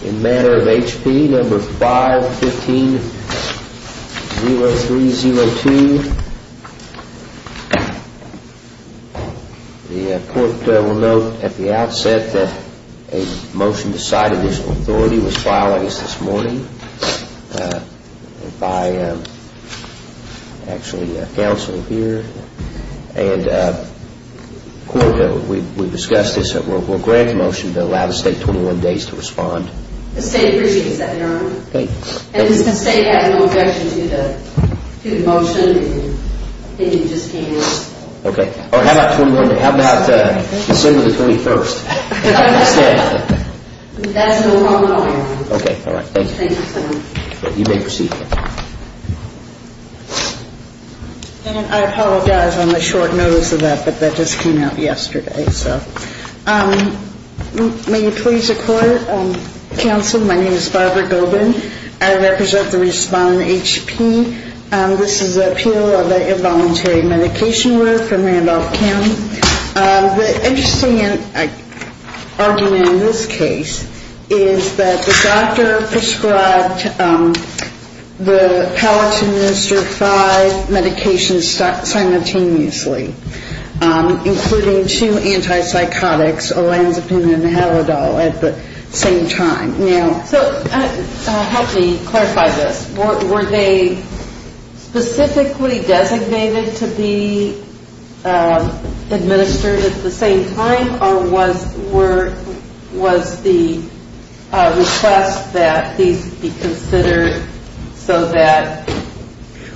No. 515-0302. The court will note at the outset that a motion decided this authority was filed against us this morning by actually a counsel here. And the court, we discussed this, will grant a motion to allow the State 21 days to respond. The State appreciates that, Your Honor. Thank you. And the State has no objection to the motion. It just came in. Okay. How about December the 21st? That's no longer on, Your Honor. Okay. All right. Thank you. Thank you, Senator. You may proceed. And I apologize on the short notice of that, but that just came out yesterday. So may you please record, counsel, my name is Barbara Gobin. I represent the respondent, H.P. This is the appeal of the involuntary medication order from Randolph County. The interesting argument in this case is that the doctor prescribed the palatine minister five medications simultaneously, including two antipsychotics, olanzapine and halidol, at the same time. Now, so help me clarify this. Were they specifically designated to be administered at the same time or was the request that these be considered so that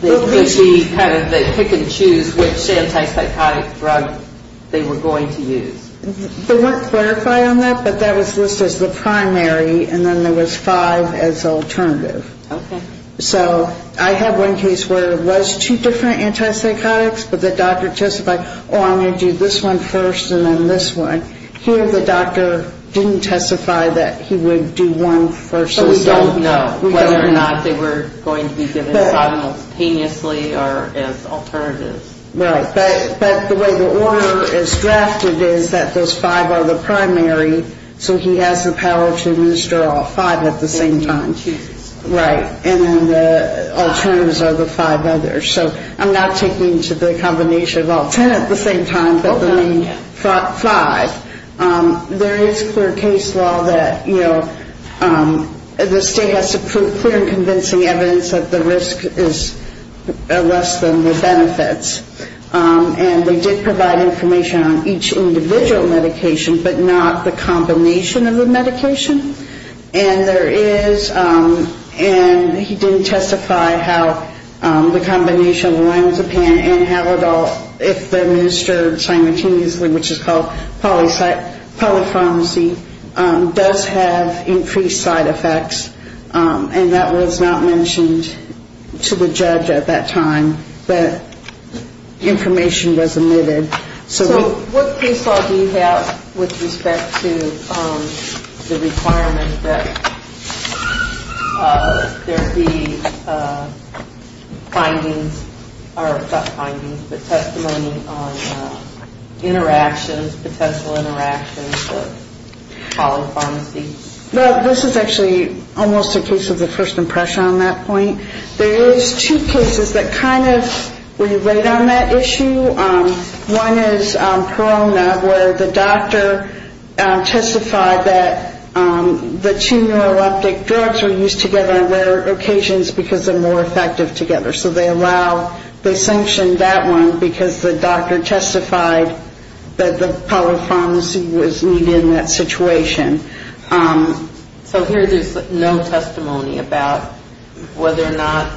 they could be kind of pick and choose which antipsychotic drug they were going to use? They weren't clarified on that, but that was listed as the primary and then there was five as alternative. Okay. So I have one case where it was two different antipsychotics, but the doctor testified, oh, I'm going to do this one first and then this one. Here the doctor didn't testify that he would do one first and second. But we don't know whether or not they were going to be given simultaneously or as alternatives. Right. But the way the order is drafted is that those five are the primary, so he has the power to administer all five at the same time. Right. And then the alternatives are the five others. So I'm not taking to the combination of all ten at the same time, but the main five. There is clear case law that, you know, the state has to prove clear and convincing evidence that the risk is less than the benefits. And we did provide information on each individual medication, but not the combination of the medication. And there is, and he didn't testify how the combination of lorazepam and Havodol, if administered simultaneously, which is called polypharmacy, does have increased side effects. And that was not mentioned to the judge at that time. But information was omitted. So what case law do you have with respect to the requirement that there be findings, or not findings, but testimony on interactions, potential interactions with polypharmacy? Well, this is actually almost a case of the first impression on that point. There is two cases that kind of relate on that issue. One is Perona, where the doctor testified that the two neuroleptic drugs were used together on rare occasions because they're more effective together. So they allow, they sanctioned that one because the doctor testified that the polypharmacy was needed in that situation. So here there's no testimony about whether or not,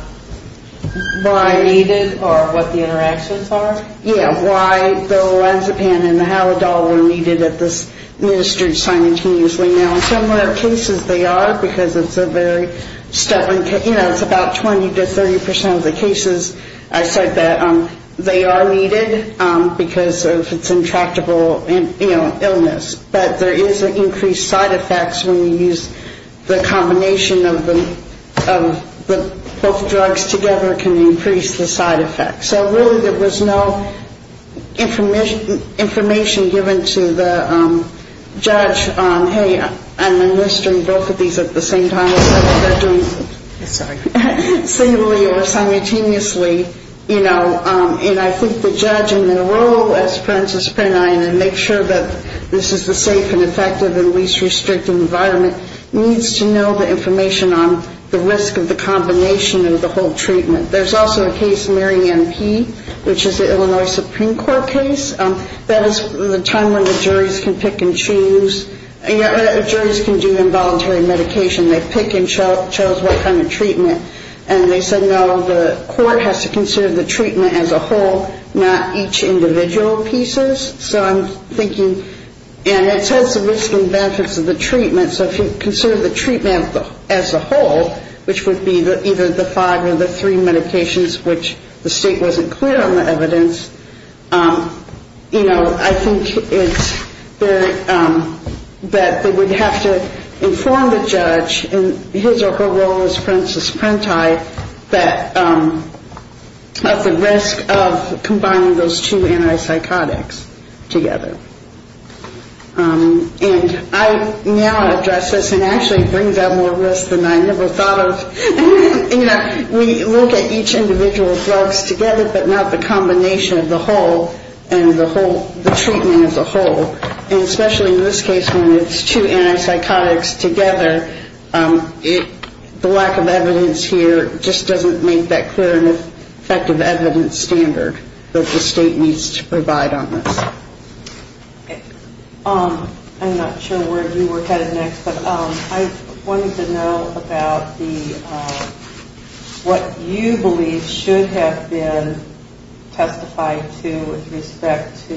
why needed, or what the interactions are? Yeah, why the lorazepam and the Havodol were needed, administered simultaneously. Now, in similar cases they are, because it's a very, you know, it's about 20 to 30% of the cases I said that they are needed because of its intractable, you know, illness. But there is an increased side effects when you use the combination of the, both drugs together can increase the side effects. So really there was no information given to the judge on, hey, I'm administering both of these at the same time, so they're doing it similarly or simultaneously, you know. And I think the judge, in the role as parenthesis parentae and make sure that this is the safe and effective and least restricting environment, needs to know the information on the risk of the combination of the whole treatment. There's also a case, Marion P., which is the Illinois Supreme Court case. That is the time when the juries can pick and choose, juries can do involuntary medication. They pick and chose what kind of treatment, and they said, no, the court has to consider the treatment as a whole, not each individual pieces. So I'm thinking, and it says the risks and benefits of the treatment, so if you consider the treatment as a whole, which would be either the five or the three medications, which the state wasn't clear on the evidence, you know, I think that they would have to inform the judge in his or her role as parenthesis parentae of the risk of combining those two antipsychotics together. And I now address this and actually bring that more to this than I never thought of. You know, we look at each individual drugs together, but not the combination of the whole and the treatment as a whole. And especially in this case, when it's two antipsychotics together, the lack of evidence here just doesn't make that clear and effective evidence standard that the state needs to provide on this. Okay. I'm not sure where you were headed next, but I wanted to know about the, what you believe should have been testified to with respect to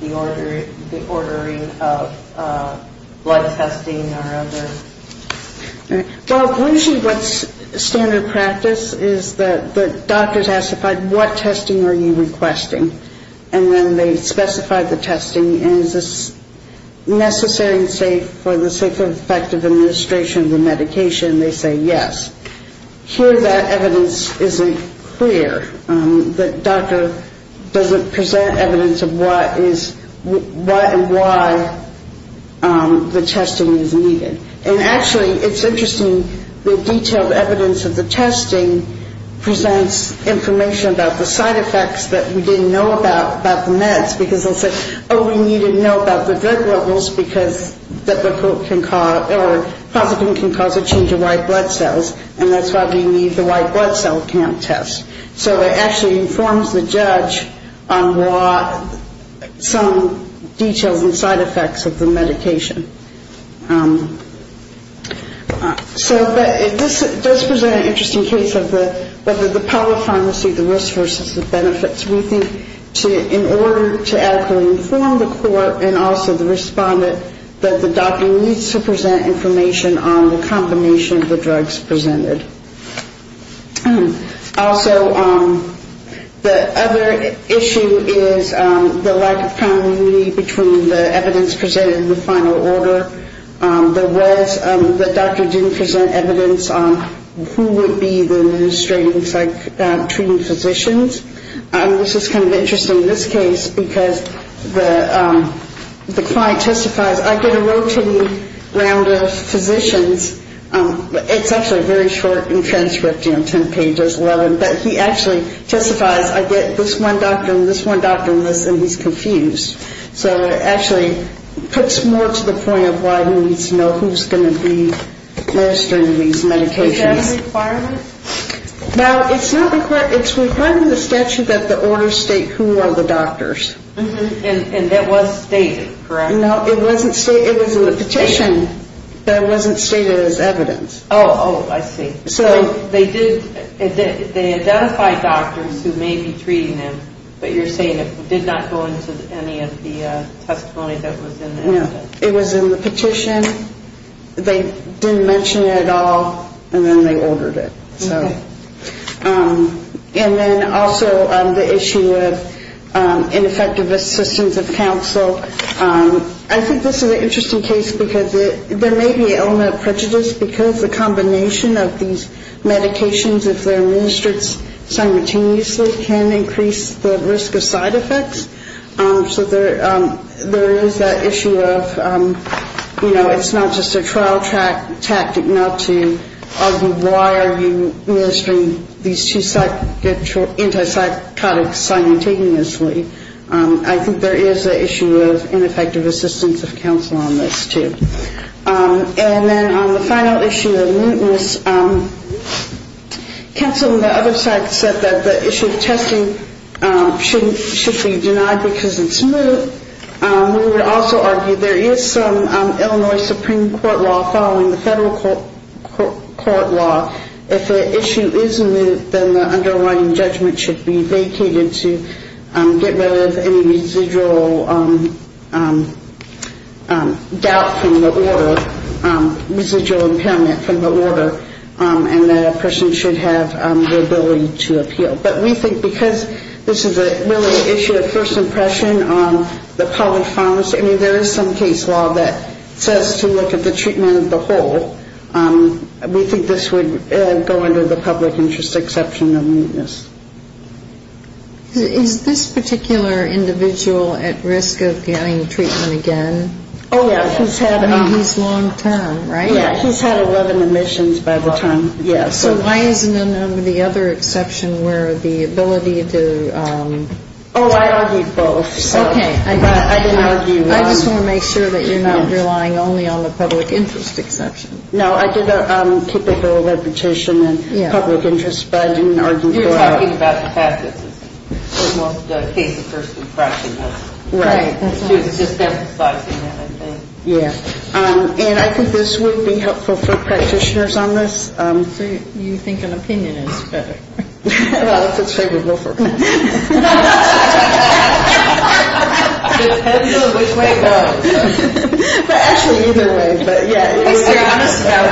the ordering of blood testing or other. Well, usually what's standard practice is that the doctors have to find what testing are you requesting. And then they specify the testing, and is this necessary and safe for the sake of effective administration of the medication, they say yes. Here that evidence isn't clear, that doctor doesn't present evidence of what is, what and why the testing is needed. And actually it's interesting, the detailed evidence of the testing presents information about the side effects that we didn't know about, about the meds, because they'll say, oh, we need to know about the drug levels, because that can cause, or positive can cause a change in white blood cells, and that's why we need the white blood cell count test. So it actually informs the judge on what some details and side effects of the medication. So this does present an interesting case of the power of pharmacy, the risks versus the benefits. We think in order to adequately inform the court, and also the respondent, that the doctor needs to present information on the combination of the drugs presented. Also, the other issue is the lack of common unity between the evidence presented and the final order. There was, the doctor didn't present evidence on who would be the administrating, treating physicians. And this is kind of interesting, this case, because the client testifies, I get a rotating round of physicians. It's actually very short in transcript, you know, 10 pages, 11, but he actually testifies, I get this one doctor and this one doctor and this, and he's confused. So it actually puts more to the point of why he needs to know who's going to be administering these medications. Now, it's not required, it's required in the statute that the order state who are the doctors. And that was stated, correct? No, it wasn't stated, it was in the petition, that it wasn't stated as evidence. Oh, oh, I see. So they did, they identified doctors who may be treating him, but you're saying it did not go into any of the testimony that was in there? No, it was in the petition. They didn't mention it at all, and then they ordered it. Okay. And then also the issue of ineffective assistance of counsel. I think this is an interesting case because there may be element of prejudice because the combination of these medications, if they're administered simultaneously, can increase the risk of side effects. So there is that issue of, you know, it's not just a trial tactic not to argue why are you administering these two antipsychotics simultaneously. I think there is an issue of ineffective assistance of counsel on this, too. And then on the final issue of mootness, counsel on the other side said that the issue of testing should be denied. If it's denied because it's moot, we would also argue there is some Illinois Supreme Court law following the federal court law. If the issue is moot, then the underlying judgment should be vacated to get rid of any residual doubt from the order, residual impairment from the order, and the person should have the ability to appeal. But we think because this is a really issue of first impression on the public pharmacy, I mean, there is some case law that says to look at the treatment of the whole. We think this would go under the public interest exception of mootness. Is this particular individual at risk of getting treatment again? Oh, yeah. I mean, he's long-term, right? Yeah, he's had 11 admissions by the time. So why isn't it under the other exception where the ability to... Oh, I argued both. I just want to make sure that you're not relying only on the public interest exception. No, I did a typical reputation in public interest, but I didn't argue for it. You're talking about the fact that this is the most case of first impression. Right. Yeah. And I think this would be helpful for practitioners on this. So you think an opinion is better? Well, if it's favorable for practitioners. Depends on which way it goes. But actually, either way. At least you're honest about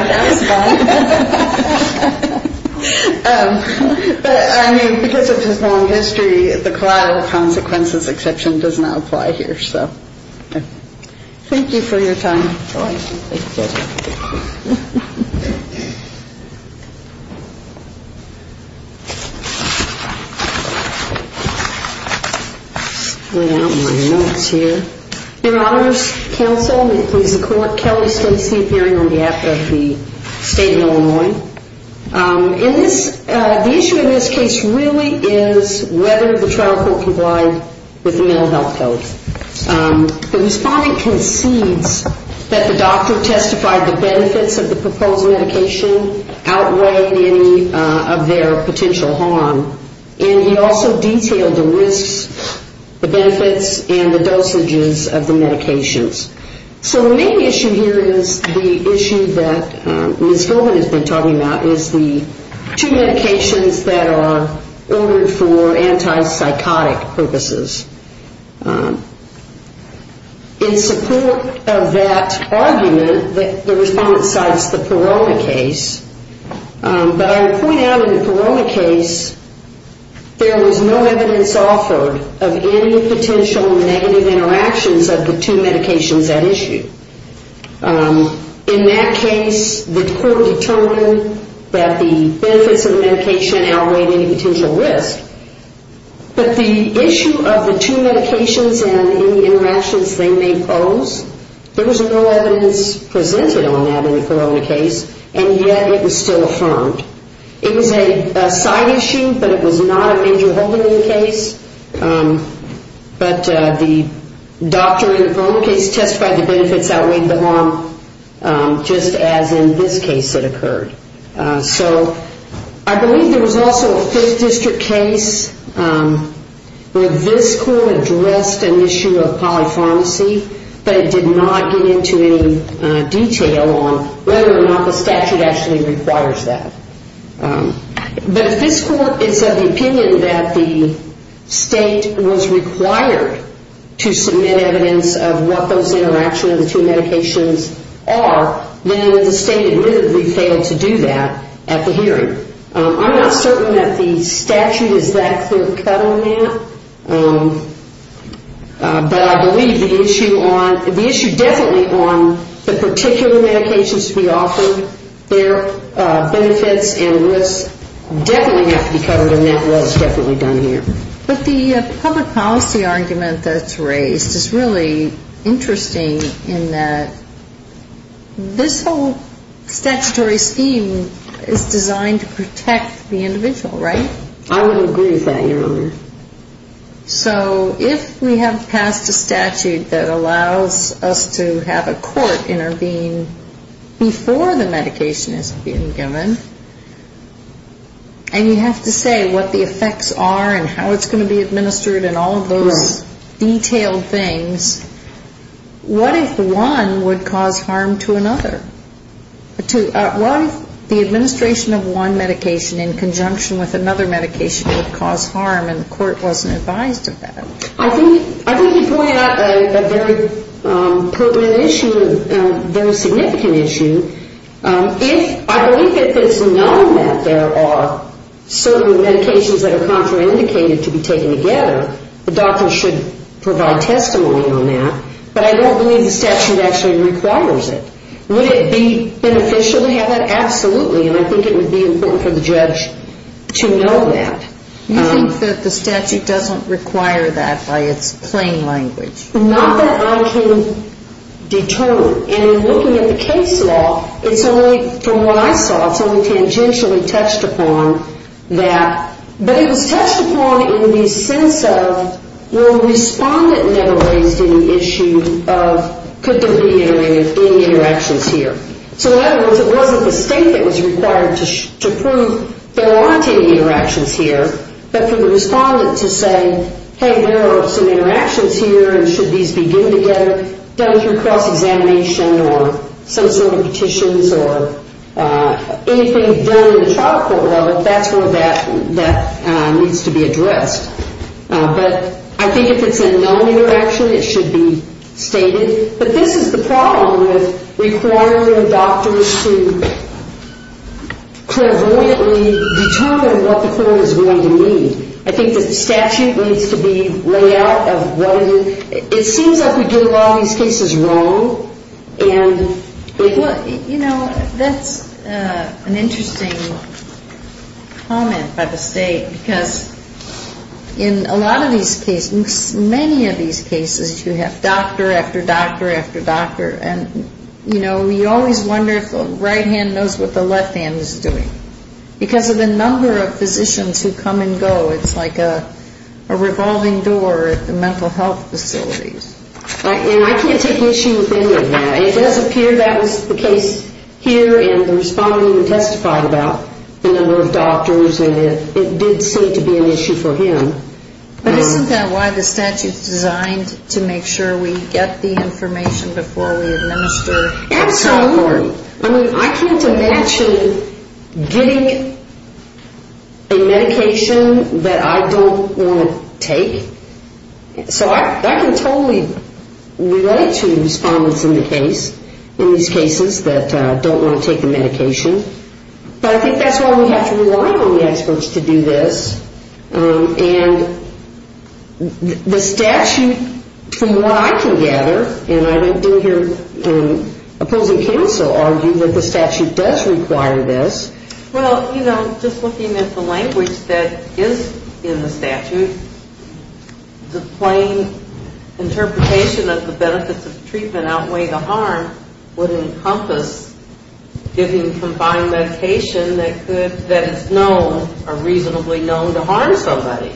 it. But, I mean, because of his long history, the collateral consequences exception does not apply here, so. Thank you for your time. I don't want your notes here. Your honors, counsel, and please, the court, Kelly states the appearing on behalf of the state of Illinois. The issue in this case really is whether the trial court complied with the mental health code. The respondent concedes that the doctor testified the benefits of the proposed medication outweighed any of their potential harm. And he also detailed the risks, the benefits, and the dosages of the medications. So the main issue here is the issue that Ms. Philbin has been talking about, is the two medications that are ordered for antipsychotic purposes. In support of that argument, the respondent cites the Paroma case. But I would point out in the Paroma case, there was no evidence offered of any potential negative interactions of the two medications at issue. In that case, the court determined that the benefits of the medication outweighed any potential risk. But the issue of the two medications and any interactions they may pose, there was no evidence presented on that in the Paroma case. And yet it was still affirmed. It was a side issue, but it was not a major holding in the case. But the doctor in the Paroma case testified the benefits outweighed the harm, just as in this case it occurred. So I believe there was also a Fifth District case where this court addressed an issue of polypharmacy, but it did not get into any detail on whether or not the statute actually requires that. But if this court is of the opinion that the state was required to submit evidence of what those interactions of the two medications are, then the state admittedly failed to do that at the hearing. I'm not certain that the statute is that clear cut on that. But I believe the issue on, the issue definitely on the particular medications to be offered, their benefits and risks, definitely have to be covered, and that was definitely done here. But the public policy argument that's raised is really interesting in that this whole statutory scheme is designed to cover the benefits of the medication. It's designed to protect the individual, right? I would agree with that, Your Honor. So if we have passed a statute that allows us to have a court intervene before the medication is being given, and you have to say what the effects are and how it's going to be administered and all of those detailed things, I don't think that a medication in conjunction with another medication would cause harm and the court wasn't advised of that. I think you pointed out a very pertinent issue, a very significant issue. If I believe that it's known that there are certain medications that are contraindicated to be taken together, the doctor should provide testimony on that, but I don't believe the statute actually requires it. Would it be beneficial to have that? Absolutely, and I think it would be important for the judge to know that. You think that the statute doesn't require that by its plain language? Not that I can determine, and in looking at the case law, it's only, from what I saw, it's only tangentially touched upon that, but it was touched upon in the sense of where a respondent never raised any issue of could there be any medication in your application, so in other words, it wasn't the state that was required to prove there aren't any interactions here, but for the respondent to say, hey, there are some interactions here and should these be given together, done through cross-examination or some sort of petitions or anything done in the trial court, that's where that needs to be addressed, but I think if it's a known interaction, it should be stated, but this is the problem with requiring doctors to clairvoyantly determine what the court is going to need. I think that the statute needs to be laid out of what it is. It seems like we get a lot of these cases wrong. You know, that's an interesting comment by the state, because in a lot of these cases, many of these cases, you have doctor after doctor after doctor, and you know, you always wonder if the right hand knows what the left hand is doing. Because of the number of physicians who come and go, it's like a revolving door at the mental health facilities. And I can't take issue with any of that. It does appear that was the case here, and the respondent testified about the number of doctors, and it did seem to be an issue for him. But isn't that why the statute is designed to make sure we get the information before we administer? Absolutely. I mean, I can't imagine getting a medication that I don't want to take. So I can totally relate to respondents in the case, in these cases that don't want to take the medication, but I think that's why we have to rely on the experts to do this, and the statute, from what I can gather, and I don't think your opposing counsel argued that the statute does require this. Well, you know, just looking at the language that is in the statute, the plain interpretation of the benefits of treatment outweigh the harm would encompass giving combined medication that is known or reasonably known to harm somebody.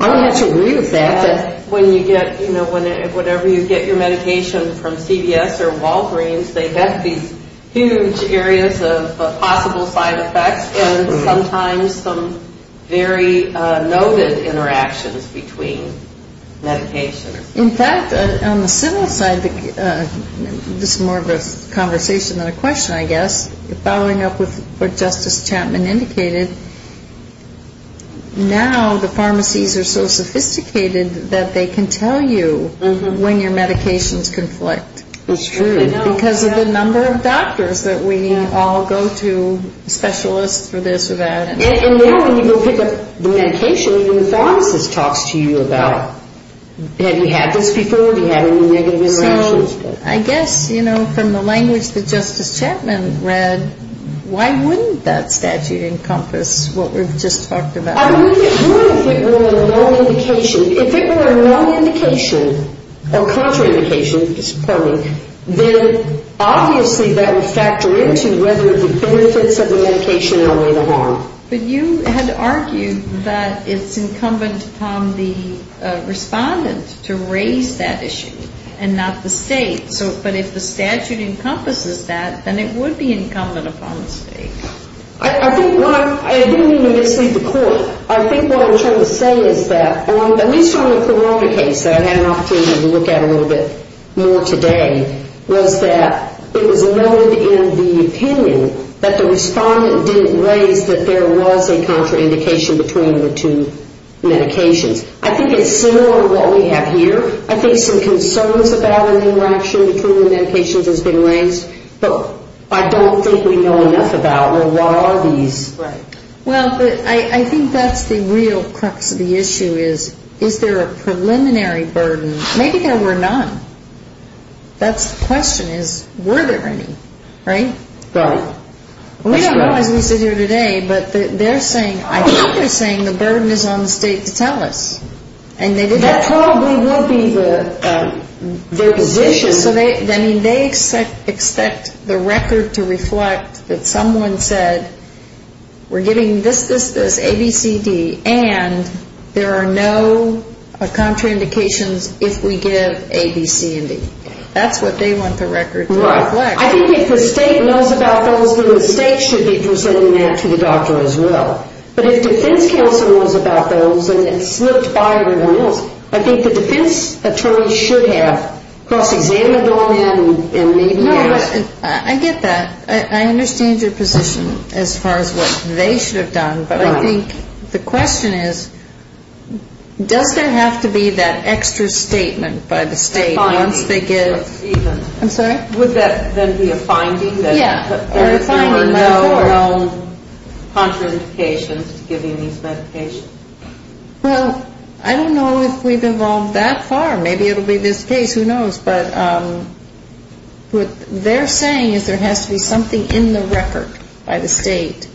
I would have to agree with that. Whenever you get your medication from CVS or Walgreens, they have these huge areas of possible side effects, and sometimes some very noted interactions between medications. In fact, on the civil side, this is more of a conversation than a question, I guess, following up with what Justice Chapman indicated, now the pharmacies are so sophisticated that they can tell you when your medications conflict. It's true. Because of the number of doctors that we all go to, specialists for this or that. And now when you go pick up the medication, even the pharmacist talks to you about, have you had this before, have you had any negative interactions. So I guess, you know, from the language that Justice Chapman read, why wouldn't that statute encompass what we've just talked about? I believe it would if it were a low indication. If it were a low indication or contraindication, pardon me, then obviously that would factor into whether the benefits of the medication outweigh the harm. But you had argued that it's incumbent upon the respondent to raise that issue and not the state. I think what I'm trying to say is that, at least on the Corona case that I had an opportunity to look at a little bit more today, was that it was noted in the opinion that the respondent didn't raise that there was a contraindication between the two medications. I think it's similar to what we have here. I think some concerns about an interaction between the medications has been raised. But I don't think we know enough about, well, what are these? Well, I think that's the real crux of the issue is, is there a preliminary burden? Maybe there were none. The question is, were there any, right? We don't know as we sit here today, but I think they're saying the burden is on the state to tell us. That probably will be their position. They expect the record to reflect that someone said, we're giving this, this, this, A, B, C, D, and there are no contraindications if we give A, B, C, and D. That's what they want the record to reflect. I think if the state knows about those, then the state should be presenting that to the doctor as well. But if defense counsel knows about those and it's slipped by everyone else, I think the defense attorney should have cross-examined all that and maybe asked. I get that. I understand your position as far as what they should have done. But I think the question is, does there have to be that extra statement by the state once they get? I'm sorry? Would that then be a finding that there were no contraindications to giving these medications? Well, I don't know if we've evolved that far. Maybe it will be this case. Who knows? But what they're saying is there has to be something in the record by the state,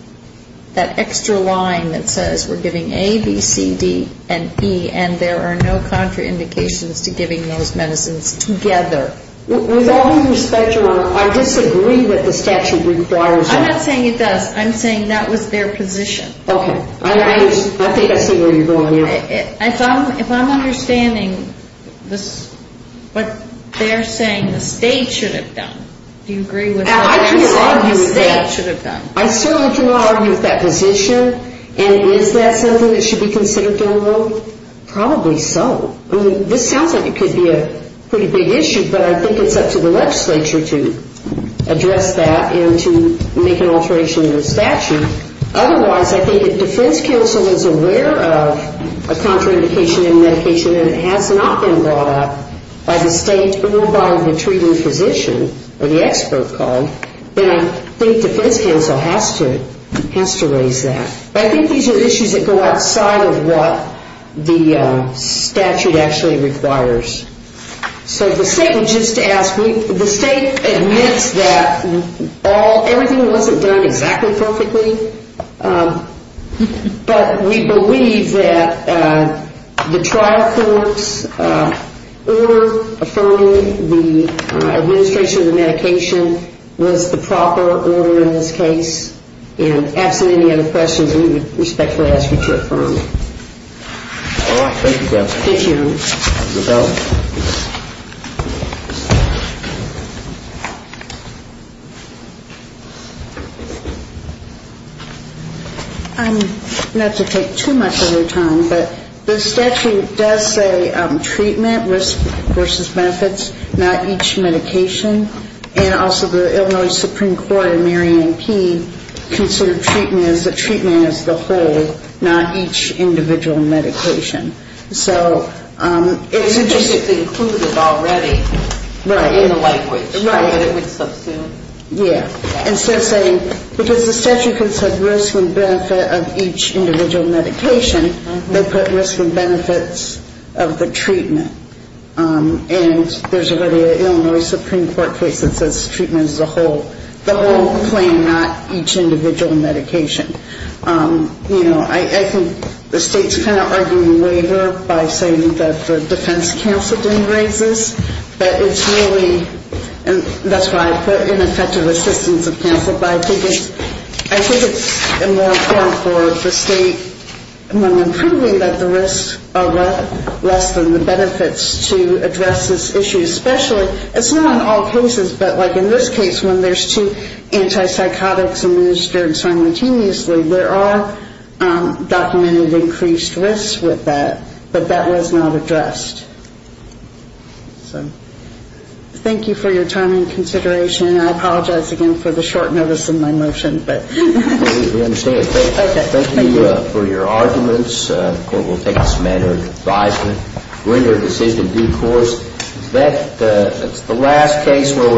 that extra line that says we're giving A, B, C, D, and E, and there are no contraindications to giving those medicines together. With all due respect, Your Honor, I disagree what the statute requires. I'm not saying it does. I'm saying that was their position. Okay. I think I see where you're going here. If I'm understanding what they're saying the state should have done, do you agree with that? I certainly can argue with that position, and is that something that should be considered to a vote? Probably so. I mean, this sounds like it could be a pretty big issue, but I think it's up to the legislature to address that and to make an alteration to the statute. Otherwise, I think if defense counsel is aware of a contraindication in medication and it has not been brought up by the state or by the treating physician or the expert called, then I think defense counsel has to raise that. But I think these are issues that go outside of what the statute actually requires. So the state will just ask. The state admits that everything wasn't done exactly perfectly, but we believe that the trial court's order affirming the administration of the medication was the proper order in this case. And absent any other questions, we would respectfully ask you to affirm. Thank you, Judge. Thank you, Your Honor. I'm not to take too much of your time, but the statute does say treatment, risk versus benefits, not each medication. And also the Illinois Supreme Court in Marion P. considered treatment as the whole, not each individual medication. So it's just... It said risk and benefit of each individual medication. They put risk and benefits of the treatment. And there's already an Illinois Supreme Court case that says treatment is the whole claim, not each individual medication. You know, I think the state's kind of arguing the waiver by saying that the defense counsel didn't raise this, but it's really... That's why I put ineffective assistance of counsel. But I think it's more important for the state when we're proving that the risks are less than the benefits to address this issue. Especially, it's not in all cases, but like in this case, when there's two antipsychotics administered simultaneously, there are documented increased risks with that, but that was not addressed. So thank you for your time and consideration. I apologize again for the short notice in my motion, but... We understand. Thank you for your arguments. The Court will take this matter into advisement. We're into a decision in due course. Is that the last case where we're...